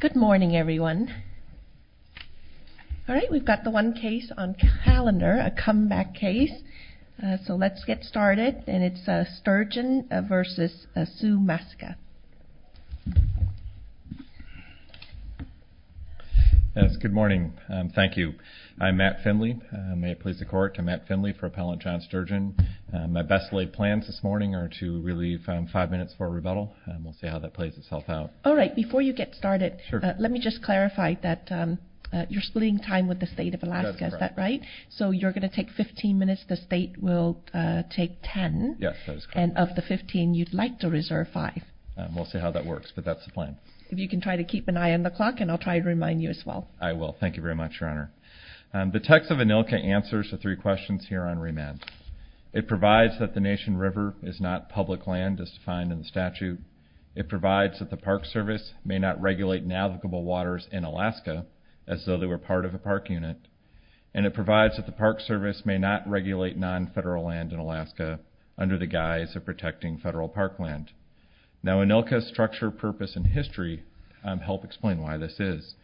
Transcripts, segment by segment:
Good morning everyone. We've got the one case on calendar, a comeback case. So let's get started and it's Sturgeon v. Sue Masica. Good morning. Thank you. I'm Matt Finley. May it please the court, I'm Matt Finley for Appellant John Sturgeon. My best laid plans this morning are to relieve five minutes for a rebuttal. We'll see how that plays itself out. All right. Before you get started, let me just clarify that you're splitting time with the state of Alaska, is that right? So you're going to take 15 minutes, the state will take 10, and of the 15 you'd like to reserve five. We'll see how that works, but that's the plan. If you can try to keep an eye on the clock and I'll try to remind you as well. I will. Thank you very much, Your Honor. The text of ANILCA answers the three questions here on remand. It provides that the Nation River is not public land as defined in the statute. It provides that the Park Service may not regulate navigable waters in Alaska as though they were part of a park unit. And it provides that the Park Service may not regulate non-federal land in Alaska under the guise of protecting federal park land. Now, ANILCA's structure, purpose, and history help explain why this is.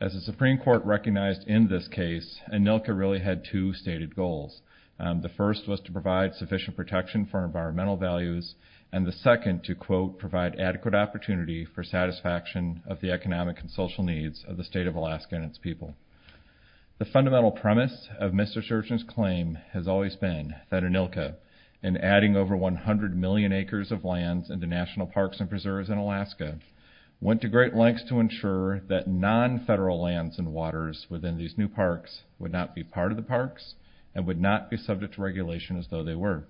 As the Supreme Court recognized in this case, ANILCA really had two stated goals. The first was to provide sufficient protection for environmental values, and the second to, quote, provide adequate opportunity for satisfaction of the economic and social needs of the state of Alaska and its people. The fundamental premise of Mr. Churchill's claim has always been that ANILCA, in adding over 100 million acres of lands into national parks and preserves in Alaska, went to great lengths to ensure that non-federal lands and waters within these new parks would not be part of the parks and would not be subject to regulation as though they were.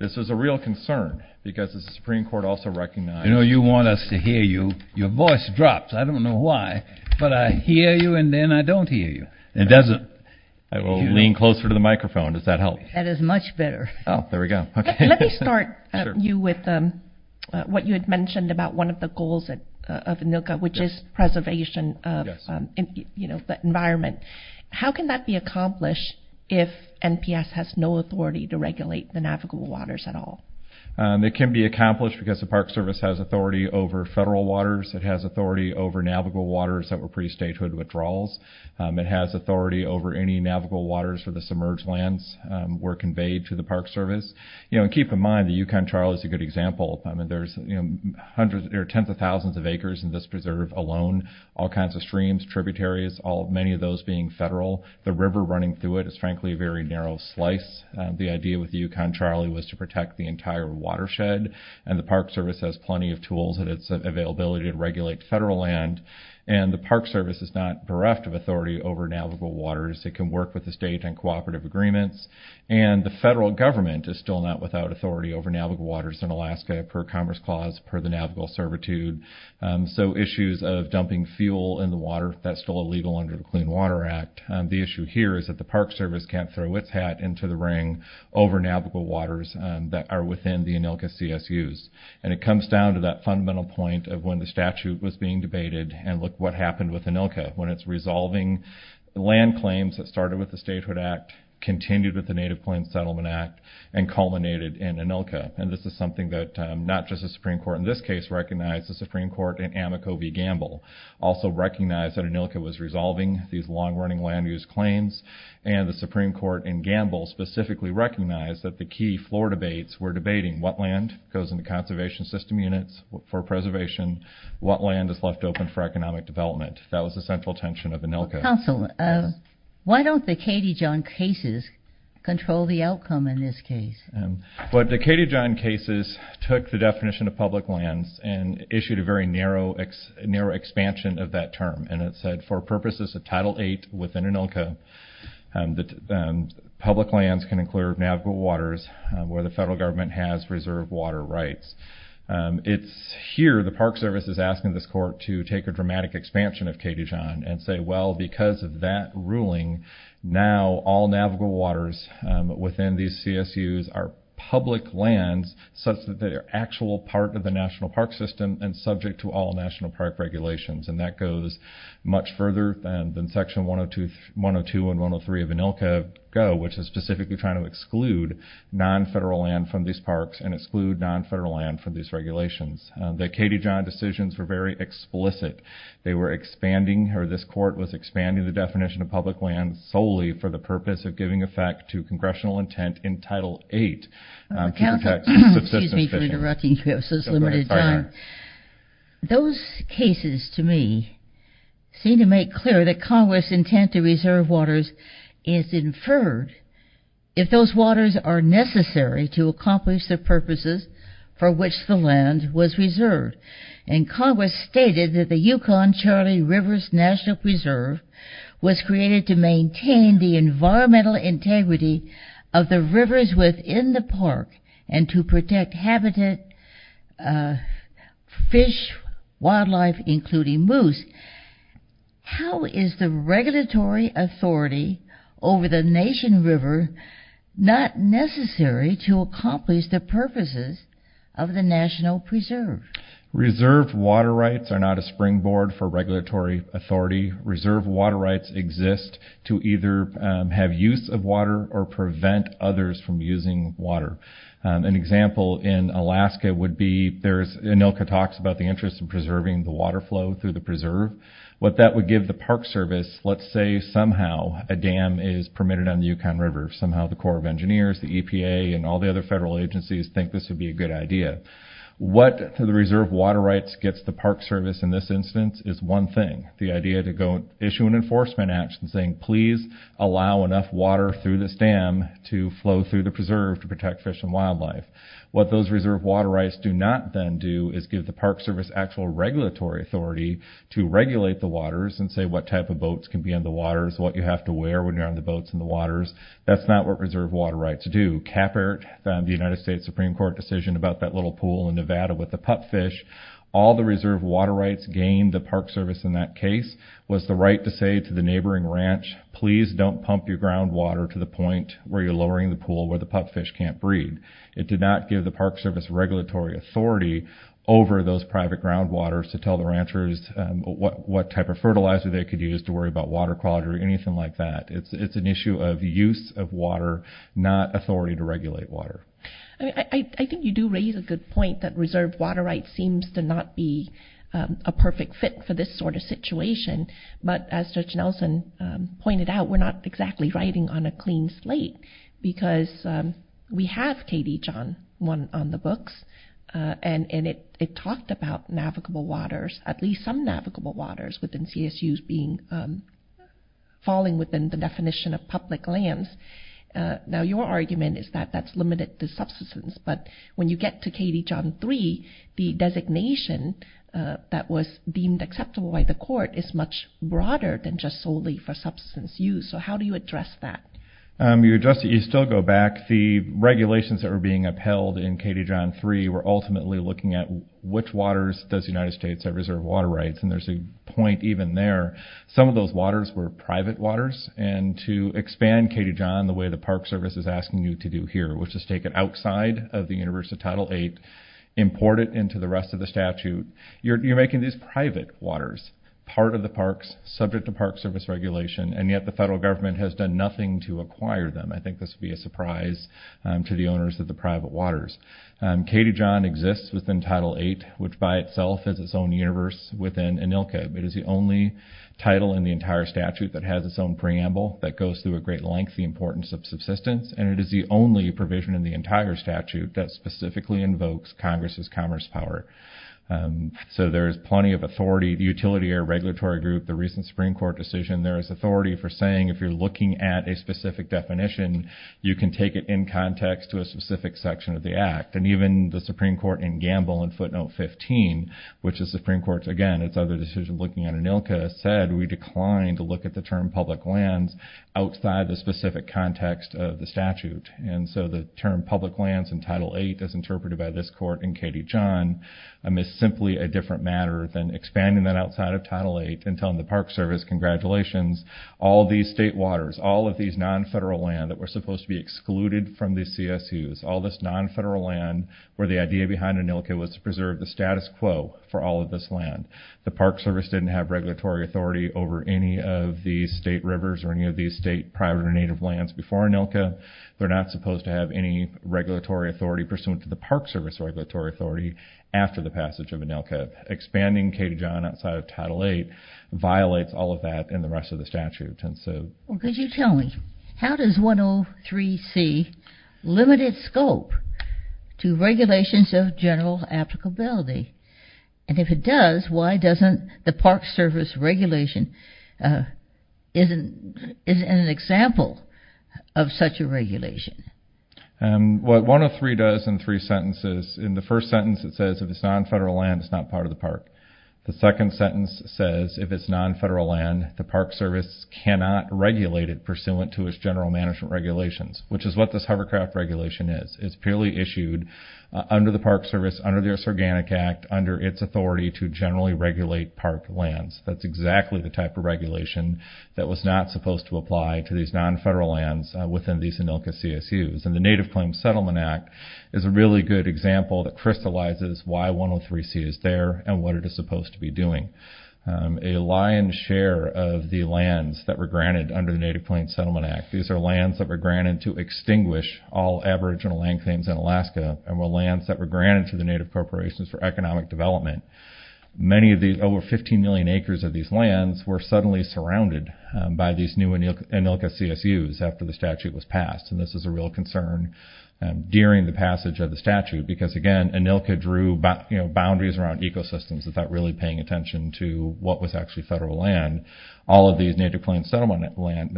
This was a real concern because the Supreme Court also recognized— You know, you want us to hear you. Your voice drops. I don't know why. But I hear you, and then I don't hear you. It doesn't. I will lean closer to the microphone. Does that help? That is much better. Oh, there we go. Let me start you with what you had mentioned about one of the goals of ANILCA, which is preservation of the environment. How can that be accomplished if NPS has no authority to regulate the navigable waters at all? It can be accomplished because the Park Service has authority over federal waters. It has authority over navigable waters that were pre-statehood withdrawals. It has authority over any navigable waters where the submerged lands were conveyed to the Park Service. Keep in mind, the Yukon-Charlie is a good example. There are tens of thousands of acres in this preserve alone, all kinds of streams, tributaries, many of those being federal. The river running through it is, frankly, a very narrow slice. The idea with the Yukon-Charlie was to protect the entire watershed, and the Park Service has plenty of tools at its availability to regulate federal land. The Park Service is not bereft of authority over navigable waters. It can work with the state on cooperative agreements, and the federal government is still not without authority over navigable waters in Alaska per Commerce Clause, per the Navigable Servitude. So issues of dumping fuel in the water, that's still illegal under the Clean Water Act. The issue here is that the Park Service can't throw its hat into the ring over navigable waters that are within the ANILCA CSUs. And it comes down to that fundamental point of when the statute was being debated, and look what happened with ANILCA, when it's resolving land claims that started with the Statehood Act, continued with the Native Plains Settlement Act, and culminated in ANILCA. And this is something that not just the Supreme Court in this case recognized, the Supreme Court in Amoco v. Gamble also recognized that ANILCA was resolving these long-running land use claims, and the Supreme Court in Gamble specifically recognized that the key floor debates were debating what land goes into conservation system units for preservation, what land is left open for economic development. That was the central tension of ANILCA. Counsel, why don't the Katie John cases control the outcome in this case? Well, the Katie John cases took the definition of public lands and issued a very narrow expansion of that term. And it said, for purposes of Title VIII within ANILCA, public lands can include navigable waters where the federal government has reserved water rights. It's here, the Park Service is asking this court to take a dramatic expansion of Katie John and say, well, because of that ruling, now all navigable waters within these CSUs are public lands, such that they are actual part of the national park system and subject to all national park regulations. And that goes much further than Section 102 and 103 of ANILCA go, which is specifically trying to exclude non-federal land from these parks and exclude non-federal land from these regulations. The Katie John decisions were very explicit. They were expanding, or this court was expanding the definition of public lands solely for the purpose of giving effect to congressional intent in Title VIII. Counsel, excuse me for interrupting you, this is Limited John. Those cases, to me, seem to make clear that Congress' intent to reserve waters is inferred if those waters are necessary to accomplish the purposes for which the land was reserved. And Congress stated that the Yukon-Charlie Rivers National Reserve was created to maintain the environmental integrity of the rivers within the park and to protect habitat, fish, wildlife, including moose. How is the regulatory authority over the Nation River not necessary to accomplish the purposes of the National Preserve? Reserve water rights are not a springboard for regulatory authority. Reserve water rights exist to either have use of water or prevent others from using water. An example in Alaska would be, there's, Anilka talks about the interest in preserving the water flow through the preserve. What that would give the Park Service, let's say somehow a dam is permitted on the Yukon River. Somehow the Corps of Engineers, the EPA, and all the other federal agencies think this would be a good idea. What the reserve water rights gets the Park Service in this instance is one thing. The idea to issue an enforcement action saying, please allow enough water through this dam to flow through the preserve to protect fish and wildlife. What those reserve water rights do not then do is give the Park Service actual regulatory authority to regulate the waters and say what type of boats can be in the waters, what you have to wear when you're on the boats in the waters. That's not what reserve water rights do. Capert, the United States Supreme Court decision about that little pool in Nevada with the pupfish, all the reserve water rights gained the Park Service in that case was the right to say to the neighboring ranch, please don't pump your groundwater to the point where you're lowering the pool where the pupfish can't breed. It did not give the Park Service regulatory authority over those private groundwaters to tell the ranchers what type of fertilizer they could use to worry about water quality or anything like that. It's an issue of use of water, not authority to regulate water. I think you do raise a good point that reserve water rights seems to not be a perfect fit for this sort of situation. But as Judge Nelson pointed out, we're not exactly writing on a clean slate because we have KD John on the books. And it talked about navigable waters, at least some navigable waters within CSUs being falling within the definition of public lands. Now, your argument is that that's limited to subsistence. But when you get to KD John 3, the designation that was deemed acceptable by the court is much broader than just solely for substance use. So how do you address that? You still go back. The regulations that were being upheld in KD John 3 were ultimately looking at which waters does the United States have reserve water rights. And there's a point even there. Some of those waters were private waters. And to expand KD John the way the Park Service is asking you to do here, which is take it outside of the universe of Title VIII, import it into the rest of the statute, you're making these private waters part of the parks, subject to Park Service regulation, and yet the federal government has done nothing to acquire them. I think this would be a surprise to the owners of the private waters. KD John exists within Title VIII, which by itself is its own universe within ANILCA. It is the only title in the entire statute that has its own preamble that goes through a great lengthy importance of subsistence, and it is the only provision in the entire statute that specifically invokes Congress's commerce power. So there is plenty of authority. The Utility Area Regulatory Group, the recent Supreme Court decision, there is authority for saying if you're looking at a specific definition, you can take it in context to a specific section of the act. And even the Supreme Court in Gamble in footnote 15, which the Supreme Court, again, it's other decision looking at ANILCA, said we declined to look at the term public lands outside the specific context of the statute. And so the term public lands in Title VIII as interpreted by this court and KD John is simply a different matter than expanding that outside of Title VIII and telling the Park Service congratulations, all these state waters, all of these non-federal land that were supposed to be excluded from the CSUs, all this non-federal land where the idea behind ANILCA was to preserve the status quo for all of this land. The Park Service didn't have regulatory authority over any of these state rivers or any of these state private or native lands before ANILCA. They're not supposed to have any regulatory authority pursuant to the Park Service regulatory authority after the passage of ANILCA. Expanding KD John outside of Title VIII violates all of that and the rest of the statute. Could you tell me, how does 103c limit its scope to regulations of general applicability? And if it does, why doesn't the Park Service regulation is an example of such a regulation? What 103 does in three sentences, in the first sentence it says if it's non-federal land, it's not part of the park. The second sentence says if it's non-federal land, the Park Service cannot regulate it pursuant to its general management regulations, which is what this hovercraft regulation is. It's purely issued under the Park Service, under this Organic Act, under its authority to generally regulate park lands. That's exactly the type of regulation that was not supposed to apply to these non-federal lands within these ANILCA CSUs. And the Native Claims Settlement Act is a really good example that crystallizes why 103c is there and what it is supposed to be doing. A lion's share of the lands that were granted under the Native Claims Settlement Act, these are lands that were granted to extinguish all aboriginal land claims in Alaska and were lands that were granted to the Native Corporations for economic development. Many of these over 15 million acres of these lands were suddenly surrounded by these new ANILCA CSUs after the statute was passed. And this is a real concern during the passage of the statute because, again, ANILCA drew boundaries around ecosystems without really paying attention to what was actually federal land. All of these Native Claims Settlement Act lands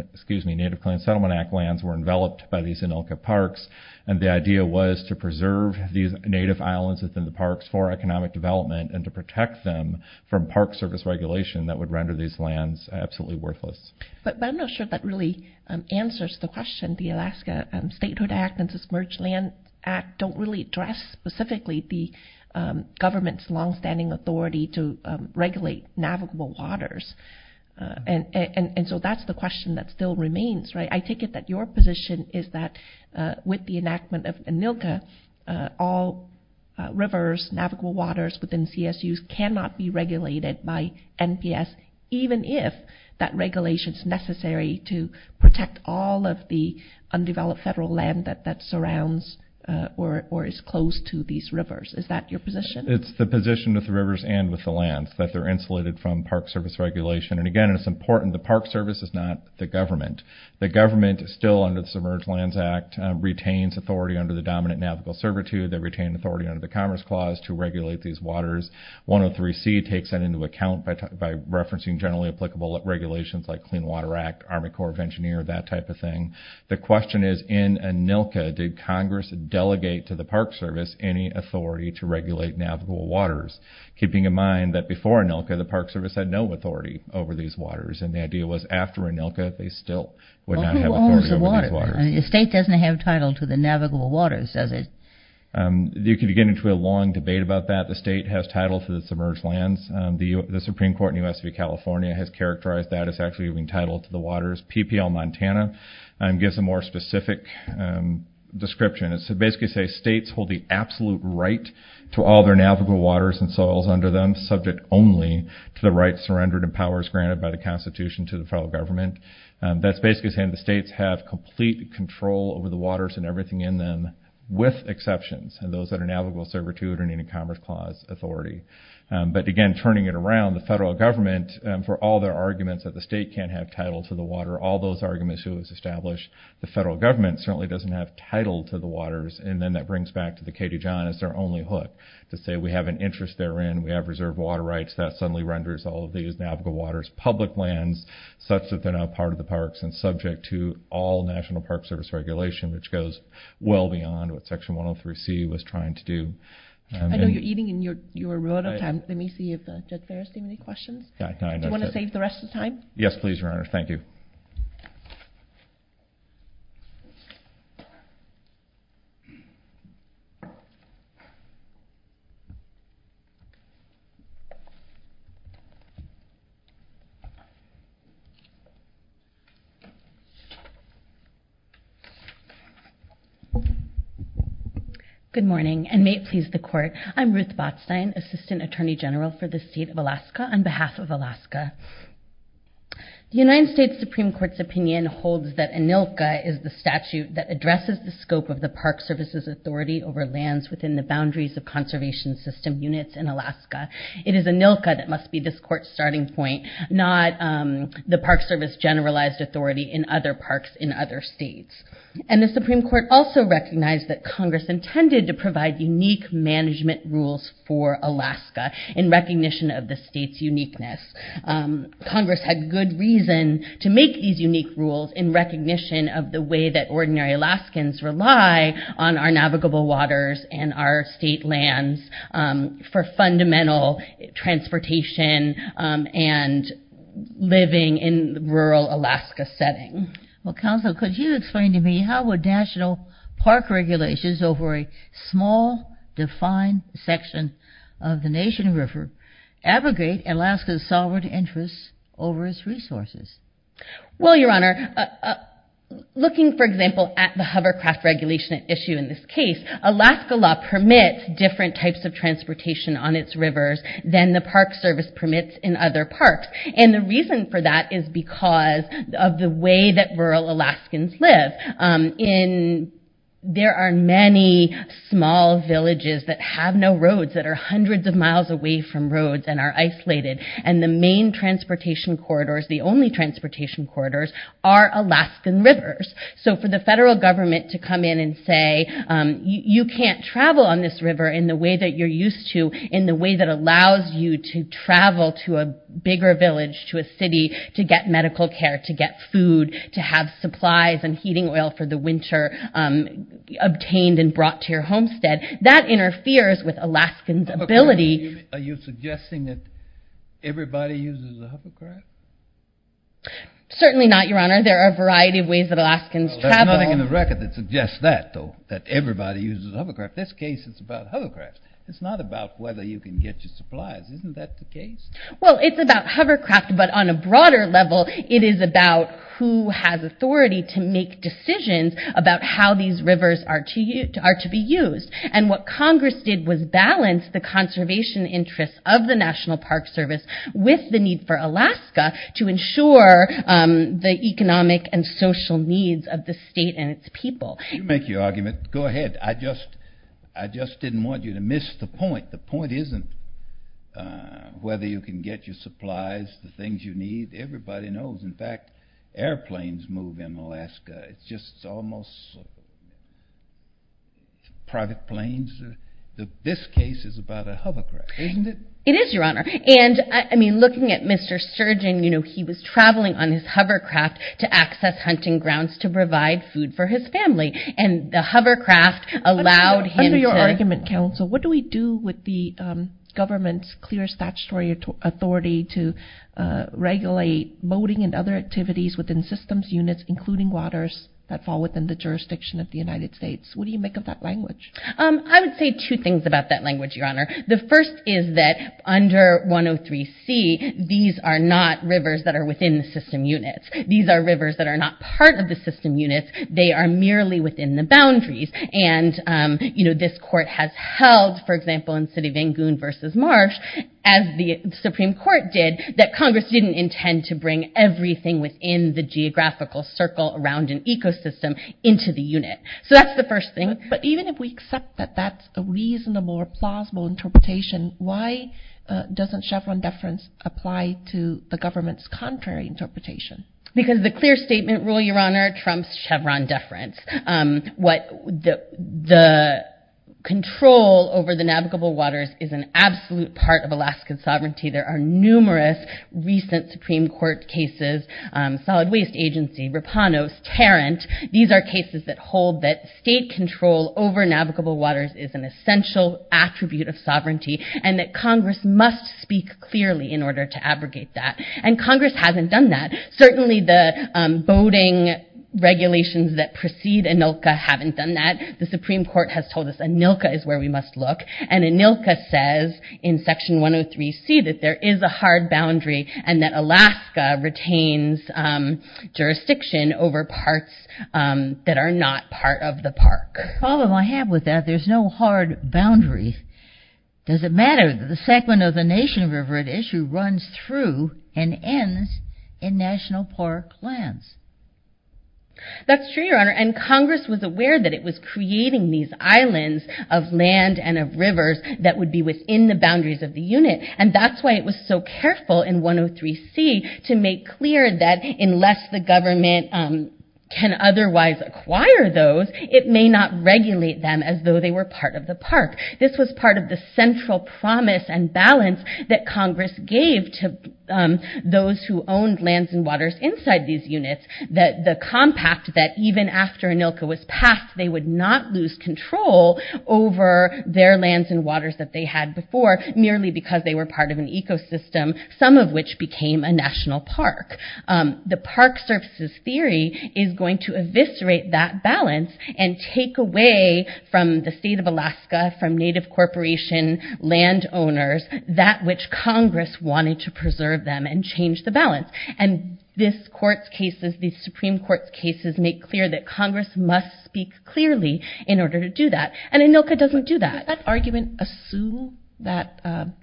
were enveloped by these ANILCA parks, and the idea was to preserve these native islands within the parks for economic development and to protect them from Park Service regulation that would render these lands absolutely worthless. But I'm not sure that really answers the question. The Alaska Statehood Act and the Submerged Land Act don't really address specifically the government's longstanding authority to regulate navigable waters. And so that's the question that still remains. I take it that your position is that with the enactment of ANILCA, all rivers, navigable waters within CSUs cannot be regulated by NPS, even if that regulation is necessary to protect all of the undeveloped federal land that surrounds or is close to these rivers. Is that your position? It's the position with the rivers and with the lands, that they're insulated from Park Service regulation. And, again, it's important the Park Service is not the government. The government, still under the Submerged Lands Act, retains authority under the Dominant Navigable Servitude. They retain authority under the Commerce Clause to regulate these waters. 103C takes that into account by referencing generally applicable regulations like Clean Water Act, Army Corps of Engineers, that type of thing. The question is, in ANILCA, did Congress delegate to the Park Service any authority to regulate navigable waters, keeping in mind that before ANILCA, the Park Service had no authority over these waters. And the idea was, after ANILCA, they still would not have authority over these waters. Well, who owns the water? The state doesn't have title to the navigable waters, does it? You could get into a long debate about that. The state has title to the submerged lands. The Supreme Court in U.S. of California has characterized that as actually being title to the waters. PPL Montana gives a more specific description. It basically says states hold the absolute right to all their navigable waters and soils under them, subject only to the rights, surrenders, and powers granted by the Constitution to the federal government. That's basically saying the states have complete control over the waters and everything in them, with exceptions, and those that are navigable serve a 200-minute Commerce Clause authority. But again, turning it around, the federal government, for all their arguments that the state can't have title to the water, all those arguments it was established, the federal government certainly doesn't have title to the waters. And then that brings back to the K-2 John as their only hook, to say we have an interest therein, we have reserve water rights. That suddenly renders all of these navigable waters public lands, such that they're not part of the parks and subject to all National Park Service regulation, which goes well beyond what Section 103C was trying to do. I know you're eating in your rebuttal time. Let me see if there are any questions. Do you want to save the rest of the time? Yes, please, Your Honor. Thank you. Good morning, and may it please the Court. I'm Ruth Botstein, Assistant Attorney General for the State of Alaska, on behalf of Alaska. The United States Supreme Court's opinion holds that ANILCA is the statute that addresses the scope of the Park Service's authority over lands within the boundaries of conservation system units in Alaska. It is ANILCA that must be this Court's starting point, not the Park Service's generalized authority in other parks in other states. And the Supreme Court also recognized that Congress intended to provide unique management rules for Alaska, in recognition of the state's uniqueness. Congress had good reason to make these unique rules in recognition of the way that ordinary Alaskans rely on our navigable waters and our state lands for fundamental transportation and living in rural Alaska setting. Well, Counsel, could you explain to me how would national park regulations over a small, defined section of the Nation River abrogate Alaska's sovereign interests over its resources? Well, Your Honor, looking, for example, at the hovercraft regulation issue in this case, Alaska law permits different types of transportation on its rivers than the Park Service permits in other parks. And the reason for that is because of the way that rural Alaskans live. There are many small villages that have no roads, that are hundreds of miles away from roads and are isolated. And the main transportation corridors, the only transportation corridors, are Alaskan rivers. So for the federal government to come in and say, you can't travel on this river in the way that you're used to, in the way that allows you to travel to a bigger village, to a city, to get medical care, to get food, to have supplies and heating oil for the winter obtained and brought to your homestead, that interferes with Alaskans' ability. Are you suggesting that everybody uses a hovercraft? Certainly not, Your Honor. There are a variety of ways that Alaskans travel. There's nothing in the record that suggests that, though, that everybody uses a hovercraft. This case is about hovercraft. It's not about whether you can get your supplies. Isn't that the case? Well, it's about hovercraft, but on a broader level, it is about who has authority to make decisions about how these rivers are to be used. And what Congress did was balance the conservation interests of the National Park Service with the need for Alaska to ensure the economic and social needs of the state and its people. You make your argument. Go ahead. I just didn't want you to miss the point. The point isn't whether you can get your supplies, the things you need. Everybody knows. In fact, airplanes move in Alaska. It's just almost private planes. This case is about a hovercraft, isn't it? It is, Your Honor. And, I mean, looking at Mr. Sturgeon, you know, he was traveling on his hovercraft to access hunting grounds to provide food for his family. And the hovercraft allowed him to- Under your argument, Counsel, what do we do with the government's clear statutory authority to regulate boating and other activities within systems units, including waters that fall within the jurisdiction of the United States? What do you make of that language? I would say two things about that language, Your Honor. The first is that under 103C, these are not rivers that are within the system units. These are rivers that are not part of the system units. They are merely within the boundaries. And, you know, this court has held, for example, in Sidi Van Goune versus Marsh, as the Supreme Court did, that Congress didn't intend to bring everything within the geographical circle around an ecosystem into the unit. So that's the first thing. But even if we accept that that's a reasonable or plausible interpretation, why doesn't Chevron deference apply to the government's contrary interpretation? Because the clear statement rule, Your Honor, trumps Chevron deference. The control over the navigable waters is an absolute part of Alaskan sovereignty. There are numerous recent Supreme Court cases, Solid Waste Agency, Rapanos, Tarrant. These are cases that hold that state control over navigable waters is an essential attribute of sovereignty and that Congress must speak clearly in order to abrogate that. And Congress hasn't done that. Certainly the boating regulations that precede ANILCA haven't done that. The Supreme Court has told us ANILCA is where we must look. And ANILCA says in Section 103C that there is a hard boundary and that Alaska retains jurisdiction over parts that are not part of the park. The problem I have with that, there's no hard boundary. Does it matter that the segment of the nation river at issue runs through and ends in National Park lands? That's true, Your Honor. And Congress was aware that it was creating these islands of land and of rivers that would be within the boundaries of the unit. And that's why it was so careful in 103C to make clear that unless the government can otherwise acquire those, it may not regulate them as though they were part of the park. This was part of the central promise and balance that Congress gave to those who owned lands and waters inside these units, that the compact that even after ANILCA was passed, they would not lose control over their lands and waters that they had before merely because they were part of an ecosystem, some of which became a national park. And take away from the state of Alaska, from native corporation land owners, that which Congress wanted to preserve them and change the balance. And this court's cases, these Supreme Court's cases, make clear that Congress must speak clearly in order to do that. And ANILCA doesn't do that. Does that argument assume that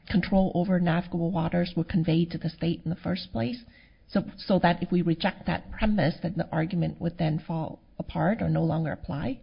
control over navigable waters were conveyed to the state in the first place? So that if we reject that premise, that the argument would then fall apart or no longer apply?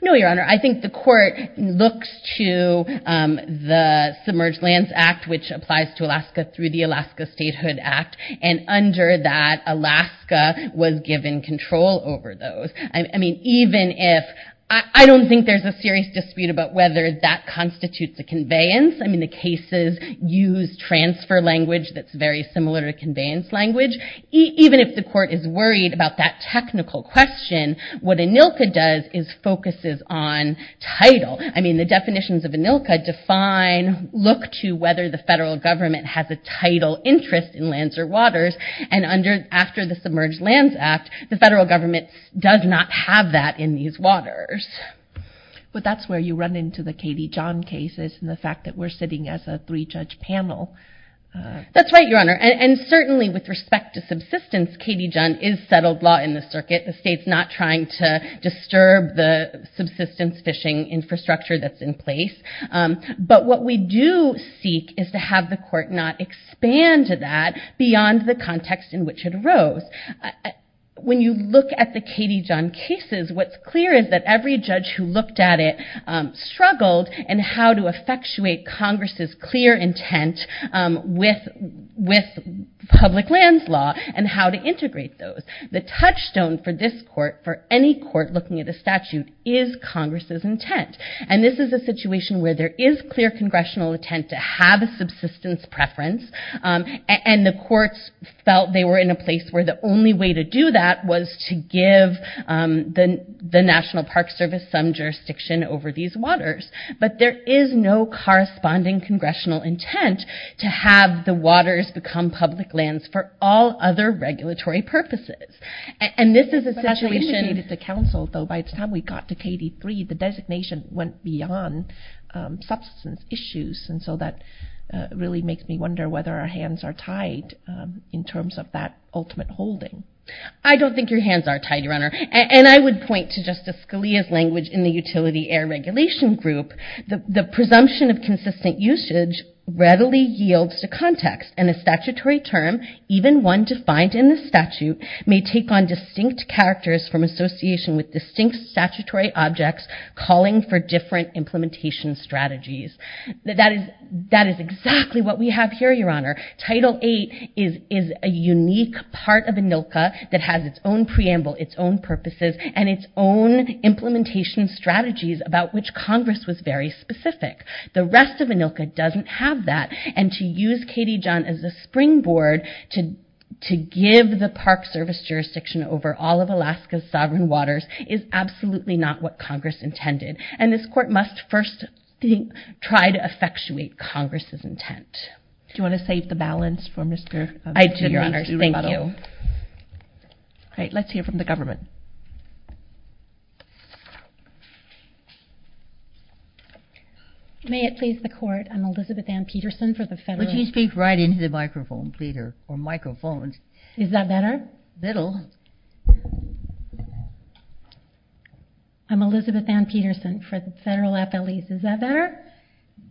No, Your Honor. I think the court looks to the Submerged Lands Act, which applies to Alaska through the Alaska Statehood Act. And under that, Alaska was given control over those. I mean, even if – I don't think there's a serious dispute about whether that constitutes a conveyance. I mean, the cases use transfer language that's very similar to conveyance language. Even if the court is worried about that technical question, what ANILCA does is focuses on title. I mean, the definitions of ANILCA define, look to whether the federal government has a title interest in lands or waters. And after the Submerged Lands Act, the federal government does not have that in these waters. But that's where you run into the Katie John cases and the fact that we're sitting as a three-judge panel. That's right, Your Honor. And certainly with respect to subsistence, Katie John is settled law in the circuit. The state's not trying to disturb the subsistence fishing infrastructure that's in place. But what we do seek is to have the court not expand to that beyond the context in which it arose. When you look at the Katie John cases, what's clear is that every judge who looked at it struggled and how to effectuate Congress's clear intent with public lands law and how to integrate those. The touchstone for this court, for any court looking at a statute, is Congress's intent. And this is a situation where there is clear congressional intent to have a subsistence preference. And the courts felt they were in a place where the only way to do that was to give the National Park Service some jurisdiction over these waters. But there is no corresponding congressional intent to have the waters become public lands for all other regulatory purposes. And this is a situation... But as I indicated to counsel, though, by the time we got to KD3, the designation went beyond subsistence issues. And so that really makes me wonder whether our hands are tied in terms of that ultimate holding. I don't think your hands are tied, Your Honor. And I would point to Justice Scalia's language in the Utility Air Regulation Group. The presumption of consistent usage readily yields to context. And a statutory term, even one defined in the statute, may take on distinct characters from association with distinct statutory objects calling for different implementation strategies. That is exactly what we have here, Your Honor. Title VIII is a unique part of ANILCA that has its own preamble, its own purposes, and its own implementation strategies about which Congress was very specific. The rest of ANILCA doesn't have that. And to use KD1 as a springboard to give the Park Service jurisdiction over all of Alaska's sovereign waters is absolutely not what Congress intended. And this Court must first try to effectuate Congress's intent. Do you want to save the balance for Mr. McDonough's rebuttal? I do, Your Honor. Thank you. All right. Let's hear from the government. May it please the Court, I'm Elizabeth Ann Peterson for the Federal— Would you speak right into the microphone, Peter, or microphones? Is that better? A little. I'm Elizabeth Ann Peterson for the Federal Affilies. Is that better?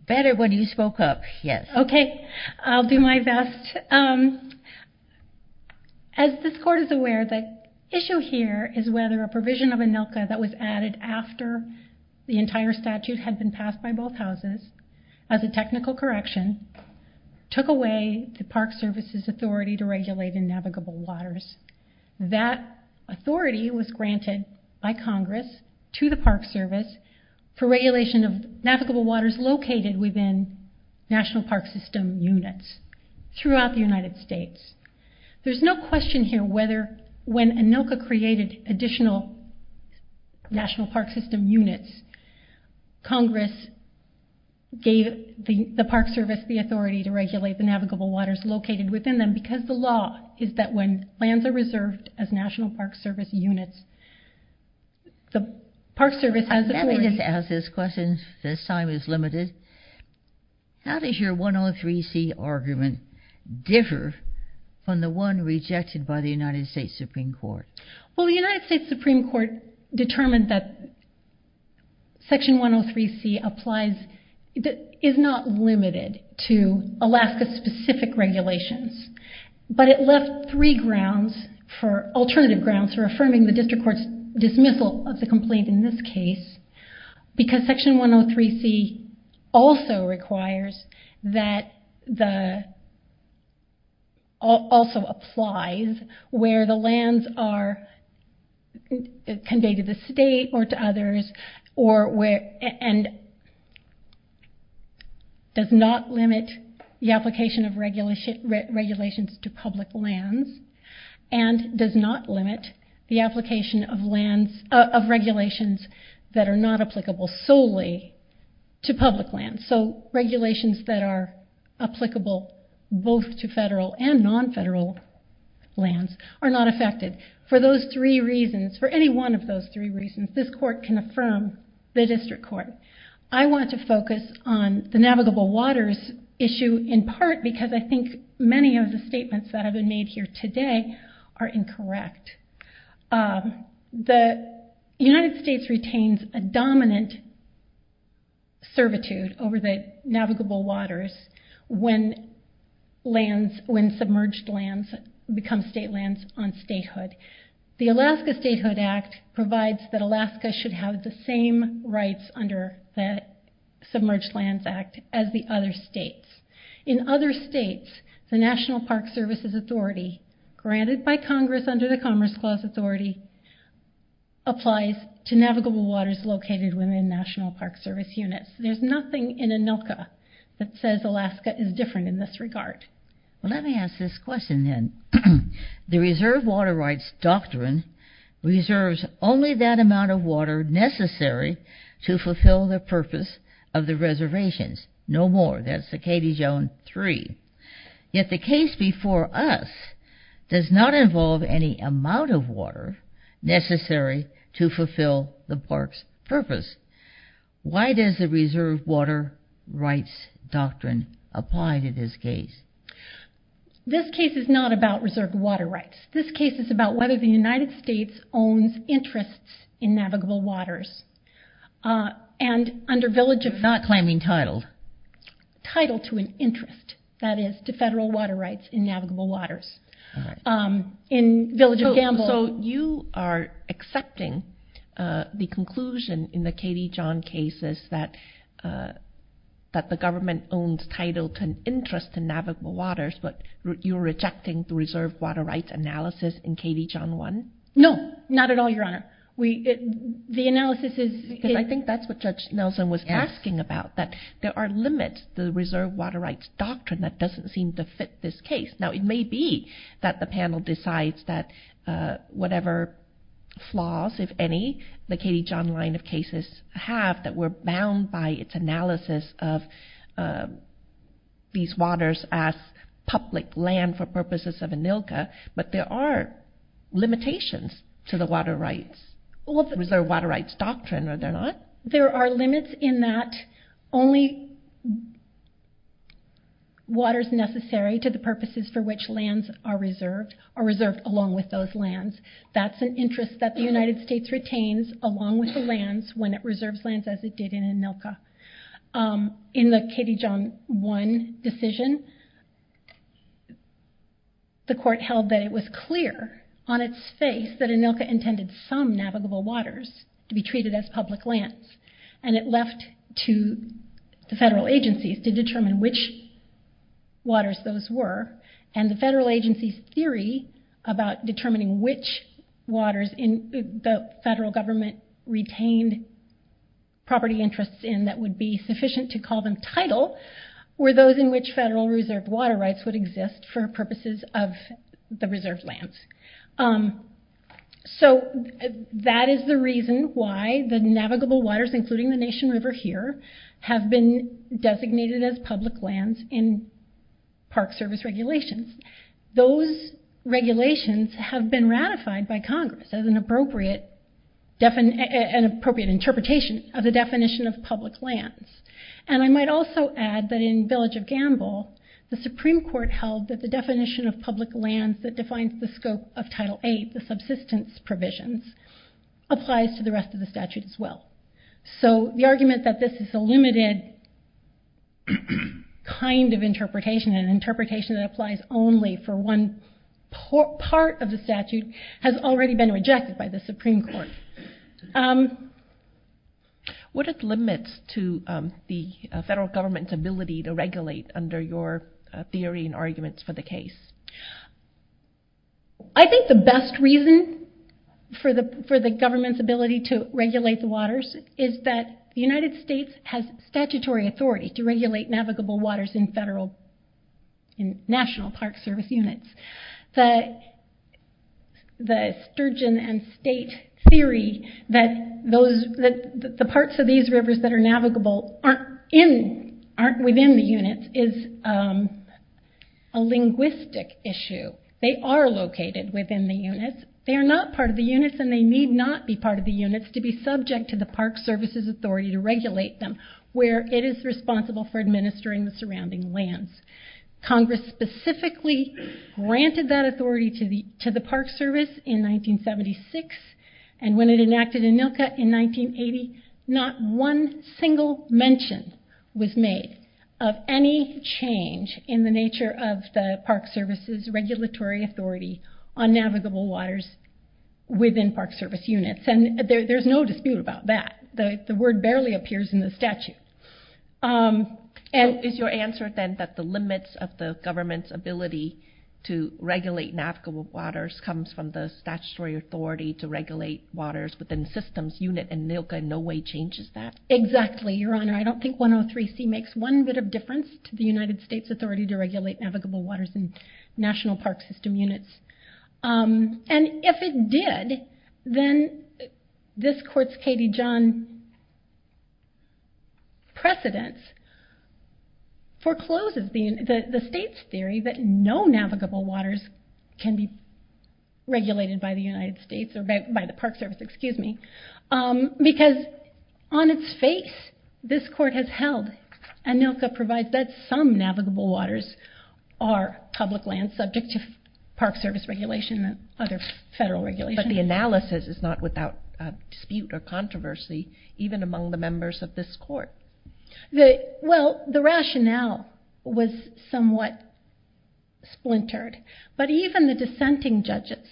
Better when you spoke up, yes. Okay. I'll do my best. As this Court is aware, the issue here is whether a provision of ANILCA that was added after the entire statute had been passed by both houses as a technical correction took away the Park Service's authority to regulate in navigable waters. That authority was granted by Congress to the Park Service for regulation of navigable waters located within National Park System units throughout the United States. There's no question here whether when ANILCA created additional National Park System units, Congress gave the Park Service the authority to regulate the navigable waters located within them because the law is that when lands are reserved as National Park Service units, the Park Service has authority— I'm happy to ask those questions. This time is limited. How does your 103C argument differ from the one rejected by the United States Supreme Court? Well, the United States Supreme Court determined that Section 103C applies— is not limited to Alaska-specific regulations, but it left three grounds for—alternative grounds for affirming the District Court's dismissal of the complaint in this case because Section 103C also requires that the— also applies where the lands are conveyed to the state or to others and does not limit the application of regulations to public lands and does not limit the application of lands— of regulations that are not applicable solely to public lands. So regulations that are applicable both to federal and non-federal lands are not affected. For those three reasons, for any one of those three reasons, this court can affirm the District Court. I want to focus on the navigable waters issue in part because I think many of the statements that have been made here today are incorrect. The United States retains a dominant servitude over the navigable waters when lands—when submerged lands become state lands on statehood. The Alaska Statehood Act provides that Alaska should have the same rights under that Submerged Lands Act as the other states. In other states, the National Park Services Authority, granted by Congress under the Commerce Clause Authority, applies to navigable waters located within National Park Service units. There's nothing in ANILCA that says Alaska is different in this regard. Well, let me ask this question then. The Reserve Water Rights Doctrine reserves only that amount of water necessary to fulfill the purpose of the reservations. No more. That's Cicada Zone 3. Yet the case before us does not involve any amount of water necessary to fulfill the park's purpose. Why does the Reserve Water Rights Doctrine apply to this case? This case is not about reserve water rights. This case is about whether the United States owns interests in navigable waters. And under Village of— You're not claiming title. Title to an interest, that is, to federal water rights in navigable waters. In Village of Gamble— So you are accepting the conclusion in the Katie John case that the government owns title to an interest in navigable waters, but you're rejecting the Reserve Water Rights Analysis in Katie John 1? No, not at all, Your Honor. The analysis is— Because I think that's what Judge Nelson was asking about, that there are limits to the Reserve Water Rights Doctrine that doesn't seem to fit this case. Now, it may be that the panel decides that whatever flaws, if any, the Katie John line of cases have, that we're bound by its analysis of these waters as public land for purposes of ANILCA, but there are limitations to the Water Rights— Reserve Water Rights Doctrine, are there not? There are limits in that only water is necessary to the purposes for which lands are reserved, are reserved along with those lands. That's an interest that the United States retains along with the lands when it reserves lands as it did in ANILCA. In the Katie John 1 decision, the court held that it was clear on its face that ANILCA intended some navigable waters to be treated as public lands, and it left to the federal agencies to determine which waters those were, and the federal agency's theory about determining which waters the federal government retained property interests in that would be sufficient to call them title were those in which federal reserve water rights would exist for purposes of the reserved lands. So, that is the reason why the navigable waters, including the Nation River here, have been designated as public lands in Park Service regulations. Those regulations have been ratified by Congress as an appropriate interpretation of the definition of public lands. And I might also add that in Village of Gamble, the Supreme Court held that the definition of public lands that defines the scope of Title 8, the subsistence provisions, applies to the rest of the statute as well. So, the argument that this is a limited kind of interpretation, an interpretation that applies only for one part of the statute, has already been rejected by the Supreme Court. What are the limits to the federal government's ability to regulate under your theory and arguments for the case? I think the best reason for the government's ability to regulate the waters is that the United States has statutory authority to regulate navigable waters in national Park Service units. The sturgeon and state theory that the parts of these rivers that are navigable aren't within the units is a linguistic issue. They are located within the units. They are not part of the units and they need not be part of the units to be subject to the Park Service's authority to regulate them where it is responsible for administering the surrounding lands. Congress specifically granted that authority to the Park Service in 1976 and when it enacted ANILCA in 1980, not one single mention was made of any change in the nature of the Park Service's regulatory authority on navigable waters within Park Service units. There's no dispute about that. The word barely appears in the statute. Is your answer then that the limits of the government's ability to regulate navigable waters comes from the statutory authority to regulate waters within systems unit and ANILCA in no way changes that? Exactly, Your Honor. I don't think 103C makes one bit of difference to the United States' authority to regulate navigable waters in National Park System units. And if it did, then this court's Katie John precedence forecloses the state's theory that no navigable waters can be regulated by the United States or by the Park Service, excuse me, because on its face this court has held ANILCA provides that some navigable waters are public lands subject to Park Service regulation and other federal regulations. But the analysis is not without dispute or controversy even among the members of this court. Well, the rationale was somewhat splintered, but even the dissenting judges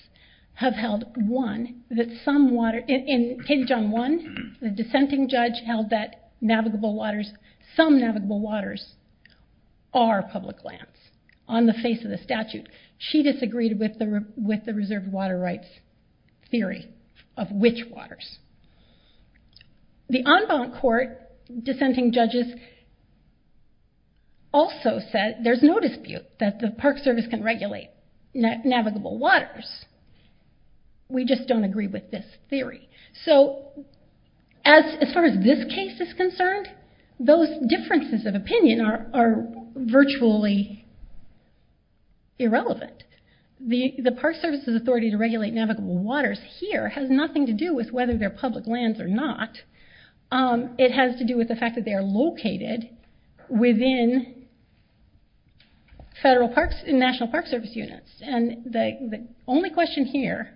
have held, one, that some water, in Katie John 1, the dissenting judge held that navigable waters, some navigable waters are public lands on the face of the statute. She disagreed with the reserve water rights theory of which waters. The en banc court dissenting judges also said there's no dispute that the Park Service can regulate navigable waters. We just don't agree with this theory. So as far as this case is concerned, those differences of opinion are virtually irrelevant. The Park Service's authority to regulate navigable waters here has nothing to do with whether they're public lands or not. It has to do with the fact that they are located within federal parks and national park service units. The only question here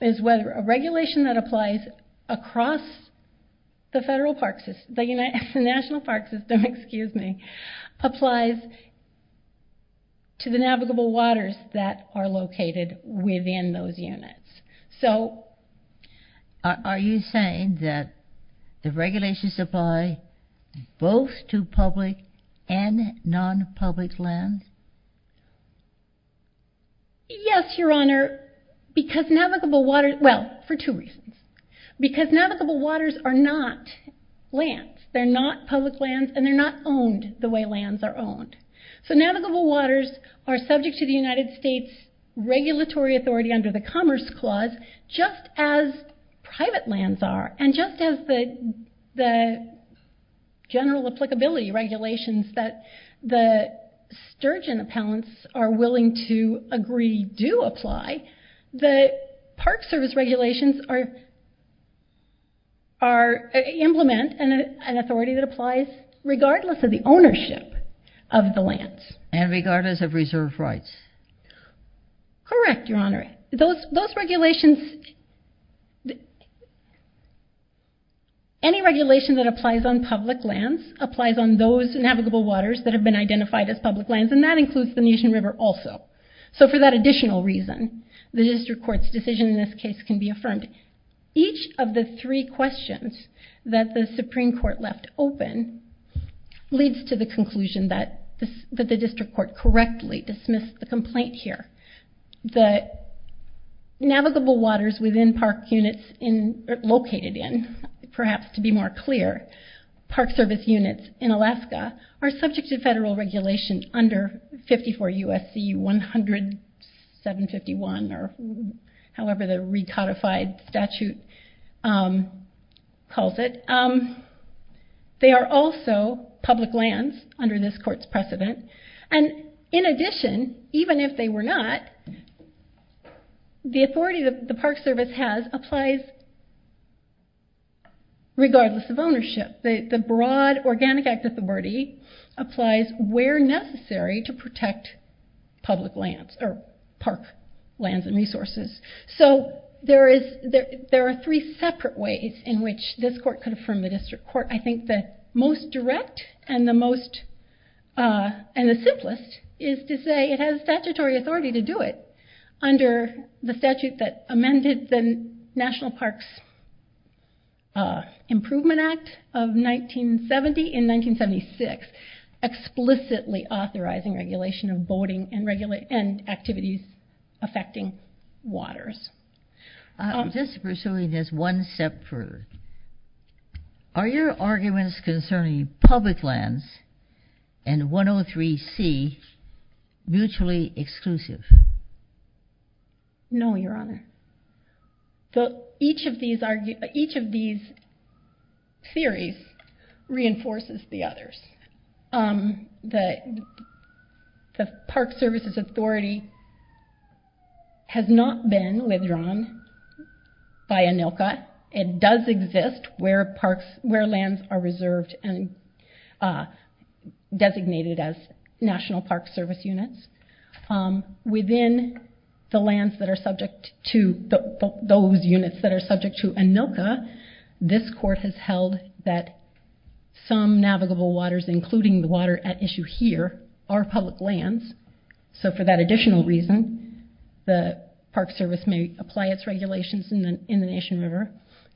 is whether a regulation that applies across the national park system applies to the navigable waters that are located within those units. Are you saying that the regulations apply both to public and non-public lands? Yes, Your Honor, because navigable waters, well, for two reasons. Because navigable waters are not lands. They're not public lands and they're not owned the way lands are owned. So navigable waters are subject to the United States regulatory authority under the Commerce Clause because just as private lands are and just as the general applicability regulations that the Sturgeon appellants are willing to agree do apply, the Park Service regulations implement an authority that applies regardless of the ownership of the lands. And regardless of reserve rights. Correct, Your Honor. Those regulations, any regulation that applies on public lands applies on those navigable waters that have been identified as public lands and that includes the National River also. So for that additional reason, the district court's decision in this case can be affirmed. Each of the three questions that the Supreme Court left open leads to the conclusion that the district court correctly dismissed the complaint here that navigable waters within park units located in, perhaps to be more clear, Park Service units in Alaska are subject to federal regulation under 54 U.S.C. 10751 or however the recodified statute calls it. They are also public lands under this court's precedent. And in addition, even if they were not, the authority that the Park Service has applies regardless of ownership. The broad organic act authority applies where necessary to protect public lands or park lands and resources. So there are three separate ways in which this court could affirm the district court. I think the most direct and the simplest is to say it has statutory authority to do it under the statute that amended the National Parks Improvement Act of 1970 in 1976 explicitly authorizing regulation of boating and activities affecting waters. I'm just pursuing this one step further. Are your arguments concerning public lands and 103C mutually exclusive? No, Your Honor. Each of these theories reinforces the others. The Park Services Authority has not been withdrawn by ANILCA. It does exist where lands are reserved and designated as National Park Service units. Within those units that are subject to ANILCA, this court has held that some navigable waters, including the water at issue here, are public lands. So for that additional reason, the Park Service may apply its regulations in the Nation River.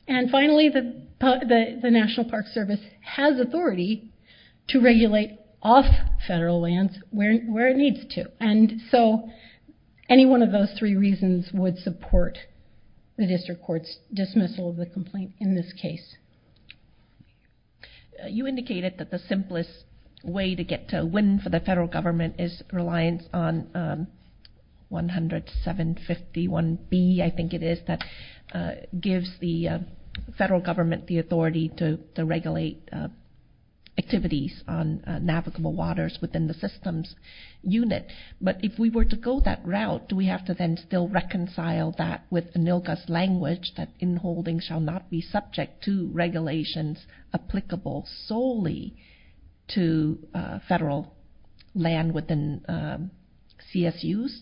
And finally, the National Park Service has authority to regulate off federal lands where it needs to. And so any one of those three reasons would support the district court's dismissal of the complaint in this case. You indicated that the simplest way to get to win for the federal government is reliance on 10751B. I think it is that gives the federal government the authority to regulate activities on navigable waters within the systems unit. But if we were to go that route, do we have to then still reconcile that with ANILCA's language that inholding shall not be subject to regulations applicable solely to federal land within CSUs?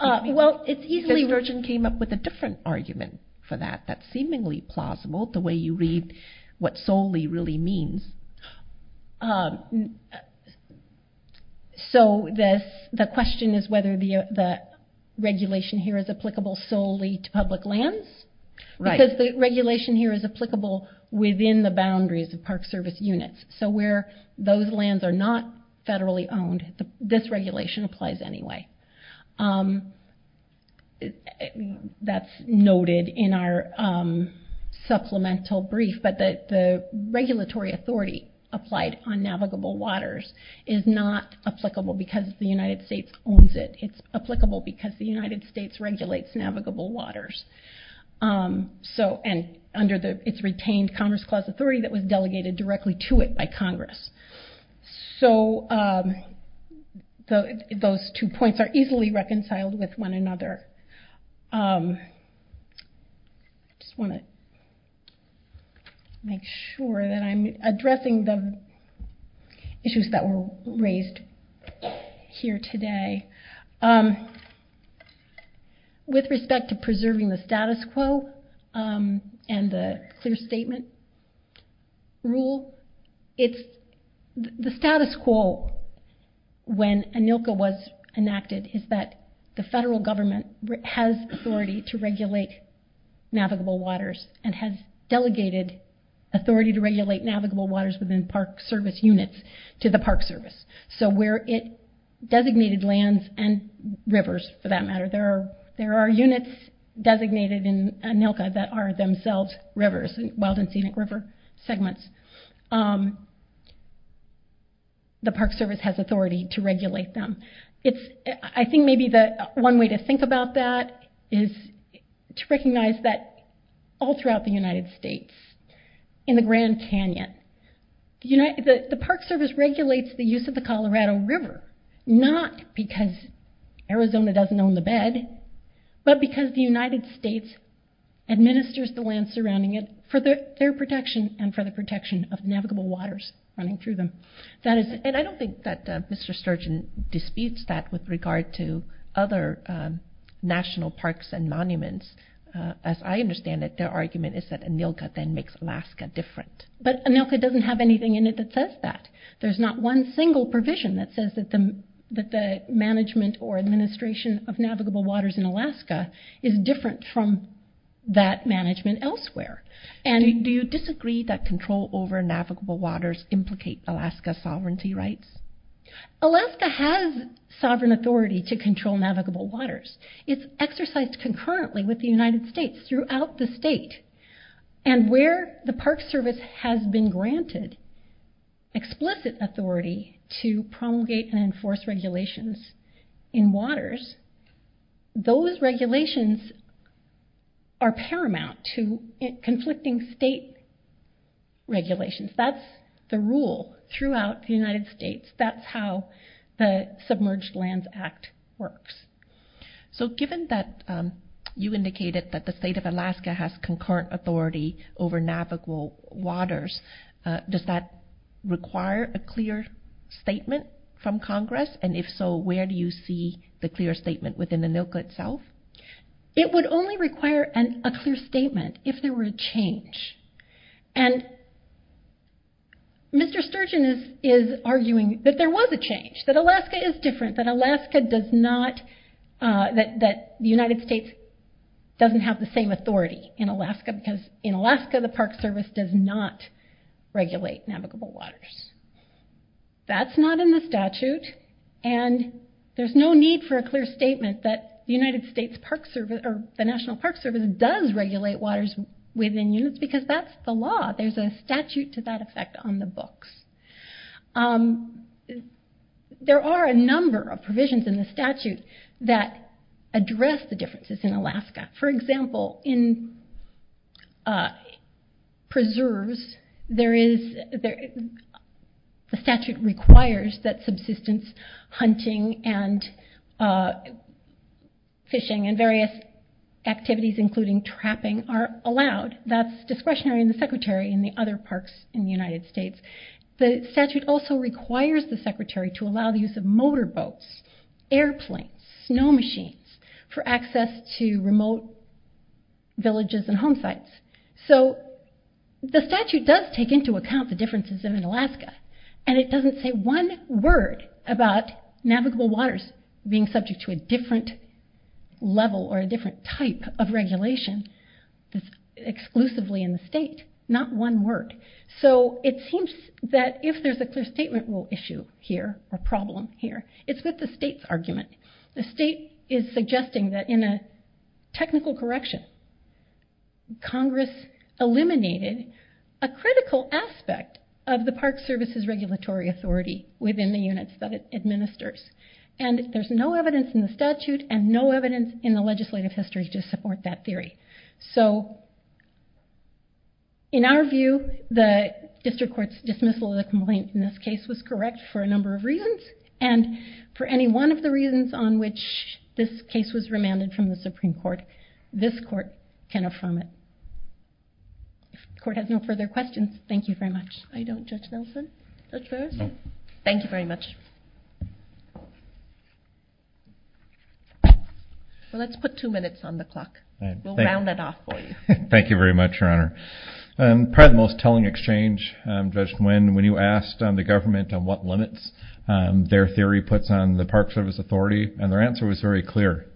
Well, it's easily... Ms. Virgin came up with a different argument for that. That's seemingly plausible, the way you read what solely really means. So the question is whether the regulation here is applicable solely to public lands? Because the regulation here is applicable within the boundaries of Park Service units. So where those lands are not federally owned, this regulation applies anyway. That's noted in our supplemental brief, but the regulatory authority applied on navigable waters is not applicable because the United States owns it. It's applicable because the United States regulates navigable waters. And under its retained Congress-clause authority that was delegated directly to it by Congress. So those two points are easily reconciled with one another. I just want to make sure that I'm addressing the issues that were raised here today. With respect to preserving the status quo and the clear statement rule, the status quo when ANILCA was enacted is that the federal government has authority to regulate navigable waters and has delegated authority to regulate navigable waters within Park Service units to the Park Service. So where it designated lands and rivers, for that matter, there are units designated in ANILCA that are themselves rivers, wild and scenic river segments. The Park Service has authority to regulate them. I think maybe one way to think about that is to recognize that all throughout the United States, in the Grand Canyon, the Park Service regulates the use of the Colorado River, not because Arizona doesn't own the bed, but because the United States administers the land surrounding it for their protection and for the protection of navigable waters running through them. And I don't think that Mr. Sturgeon disputes that with regard to other national parks and monuments. As I understand it, their argument is that Alaska is different. But ANILCA doesn't have anything in it that says that. There's not one single provision that says that the management or administration of navigable waters in Alaska is different from that management elsewhere. And do you disagree that control over navigable waters implicate Alaska's sovereignty rights? Alaska has sovereign authority to control navigable waters. It's exercised concurrently with the United States throughout the state. And where the Park Service has been granted explicit authority to promulgate and enforce regulations in waters, those regulations are paramount to conflicting state regulations. That's the rule throughout the United States. That's how the Submerged Lands Act works. So given that you indicated that the state of Alaska has concurrent authority over navigable waters, does that require a clear statement from Congress? And if so, where do you see the clear statement within ANILCA itself? It would only require a clear statement if there were a change. And Mr. Sturgeon is arguing that there was a change, that Alaska is different, that Alaska does not... In Alaska, the Park Service does not regulate navigable waters. That's not in the statute. And there's no need for a clear statement that the National Park Service does regulate waters within units because that's the law. There's a statute to that effect on the books. There are a number of provisions in the statute that address the differences in Alaska. For example, in preserves, the statute requires that subsistence hunting and fishing and various activities, including trapping, are allowed. That's discretionary in the Secretary and the other parks in the United States. The statute also requires the Secretary to allow the use of motorboats, airplanes, snow machines for access to remote villages and home sites. So the statute does take into account the differences in Alaska, and it doesn't say one word about navigable waters being subject to a different level or a different type of regulation that's exclusively in the state. Not one word. So it seems that if there's a clear statement issue here, a problem here, it's with the state's argument. The state is suggesting that in a technical correction, Congress eliminated a critical aspect of the Park Service's regulatory authority within the units that it administers, and there's no evidence in the statute and no evidence in the legislative history to support that theory. So in our view, the district court's dismissal of the complaint in this case was correct for a number of reasons, and for any one of the reasons on which this case was remanded from the Supreme Court, this court can affirm it. If the court has no further questions, thank you very much. I don't, Judge Nelson? Judge Ferris? No. Thank you very much. Well, let's put two minutes on the clock. We'll round it off for you. Thank you very much, Your Honor. Probably the most telling exchange, Judge Nguyen, when you asked the government on what limits their theory puts on the Park Service authority, and their answer was very clear.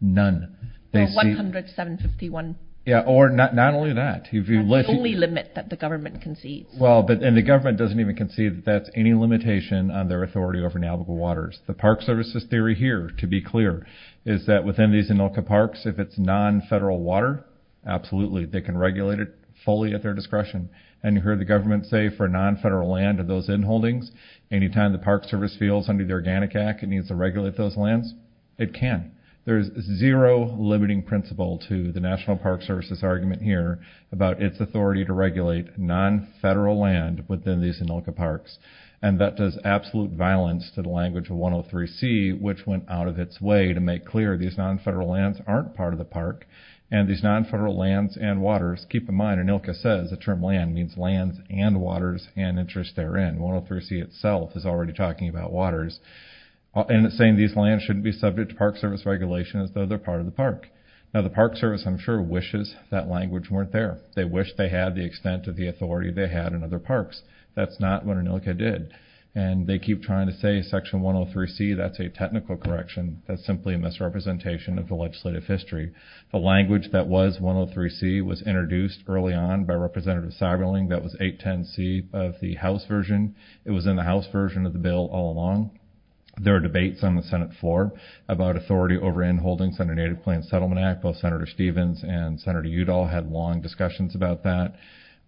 None. Well, 107.51. Yeah, or not only that. That's the only limit that the government concedes. Well, and the government doesn't even concede that that's any limitation on their authority over navigable waters. The Park Service's theory here, to be clear, is that within these Inuka Parks, if it's non-federal water, absolutely. They can regulate it fully at their discretion. And you heard the government say for non-federal land of those inholdings, any time the Park Service feels under the Organic Act it needs to regulate those lands, it can. There's zero limiting principle to the National Park Service's argument here about its authority to regulate non-federal land within these Inuka Parks, and that does absolute violence to the language of 103C, which went out of its way to make clear these non-federal lands aren't part of the park, and these non-federal lands and waters, keep in mind, Inuka says the term land means lands and waters and interests therein. 103C itself is already talking about waters, and it's saying these lands shouldn't be subject to Park Service regulation as though they're part of the park. Now the Park Service, I'm sure, wishes that language weren't there. They wish they had the extent of the authority they had in other parks. That's not what Inuka did. And they keep trying to say Section 103C, that's a technical correction. That's simply a misrepresentation of the legislative history. The language that was 103C was introduced early on by Representative Seiberling, that was 810C of the House version. It was in the House version of the bill all along. There are debates on the Senate floor about authority over inholdings under Native Plains Settlement Act. Both Senator Stevens and Senator Udall had long discussions about that.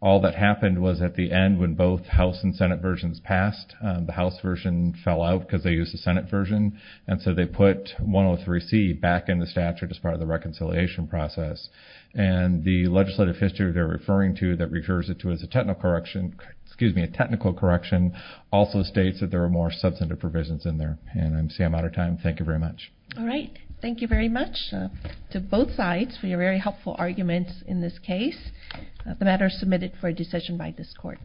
All that happened was at the end, when both House and Senate versions passed, the House version fell out because they used the Senate version, and so they put 103C back in the statute as part of the reconciliation process. And the legislative history they're referring to as a technical correction also states that there were more substantive provisions in there. And I see I'm out of time. Thank you very much. All right. Thank you very much to both sides for your very helpful arguments in this case. The matter is submitted for a decision by this Court.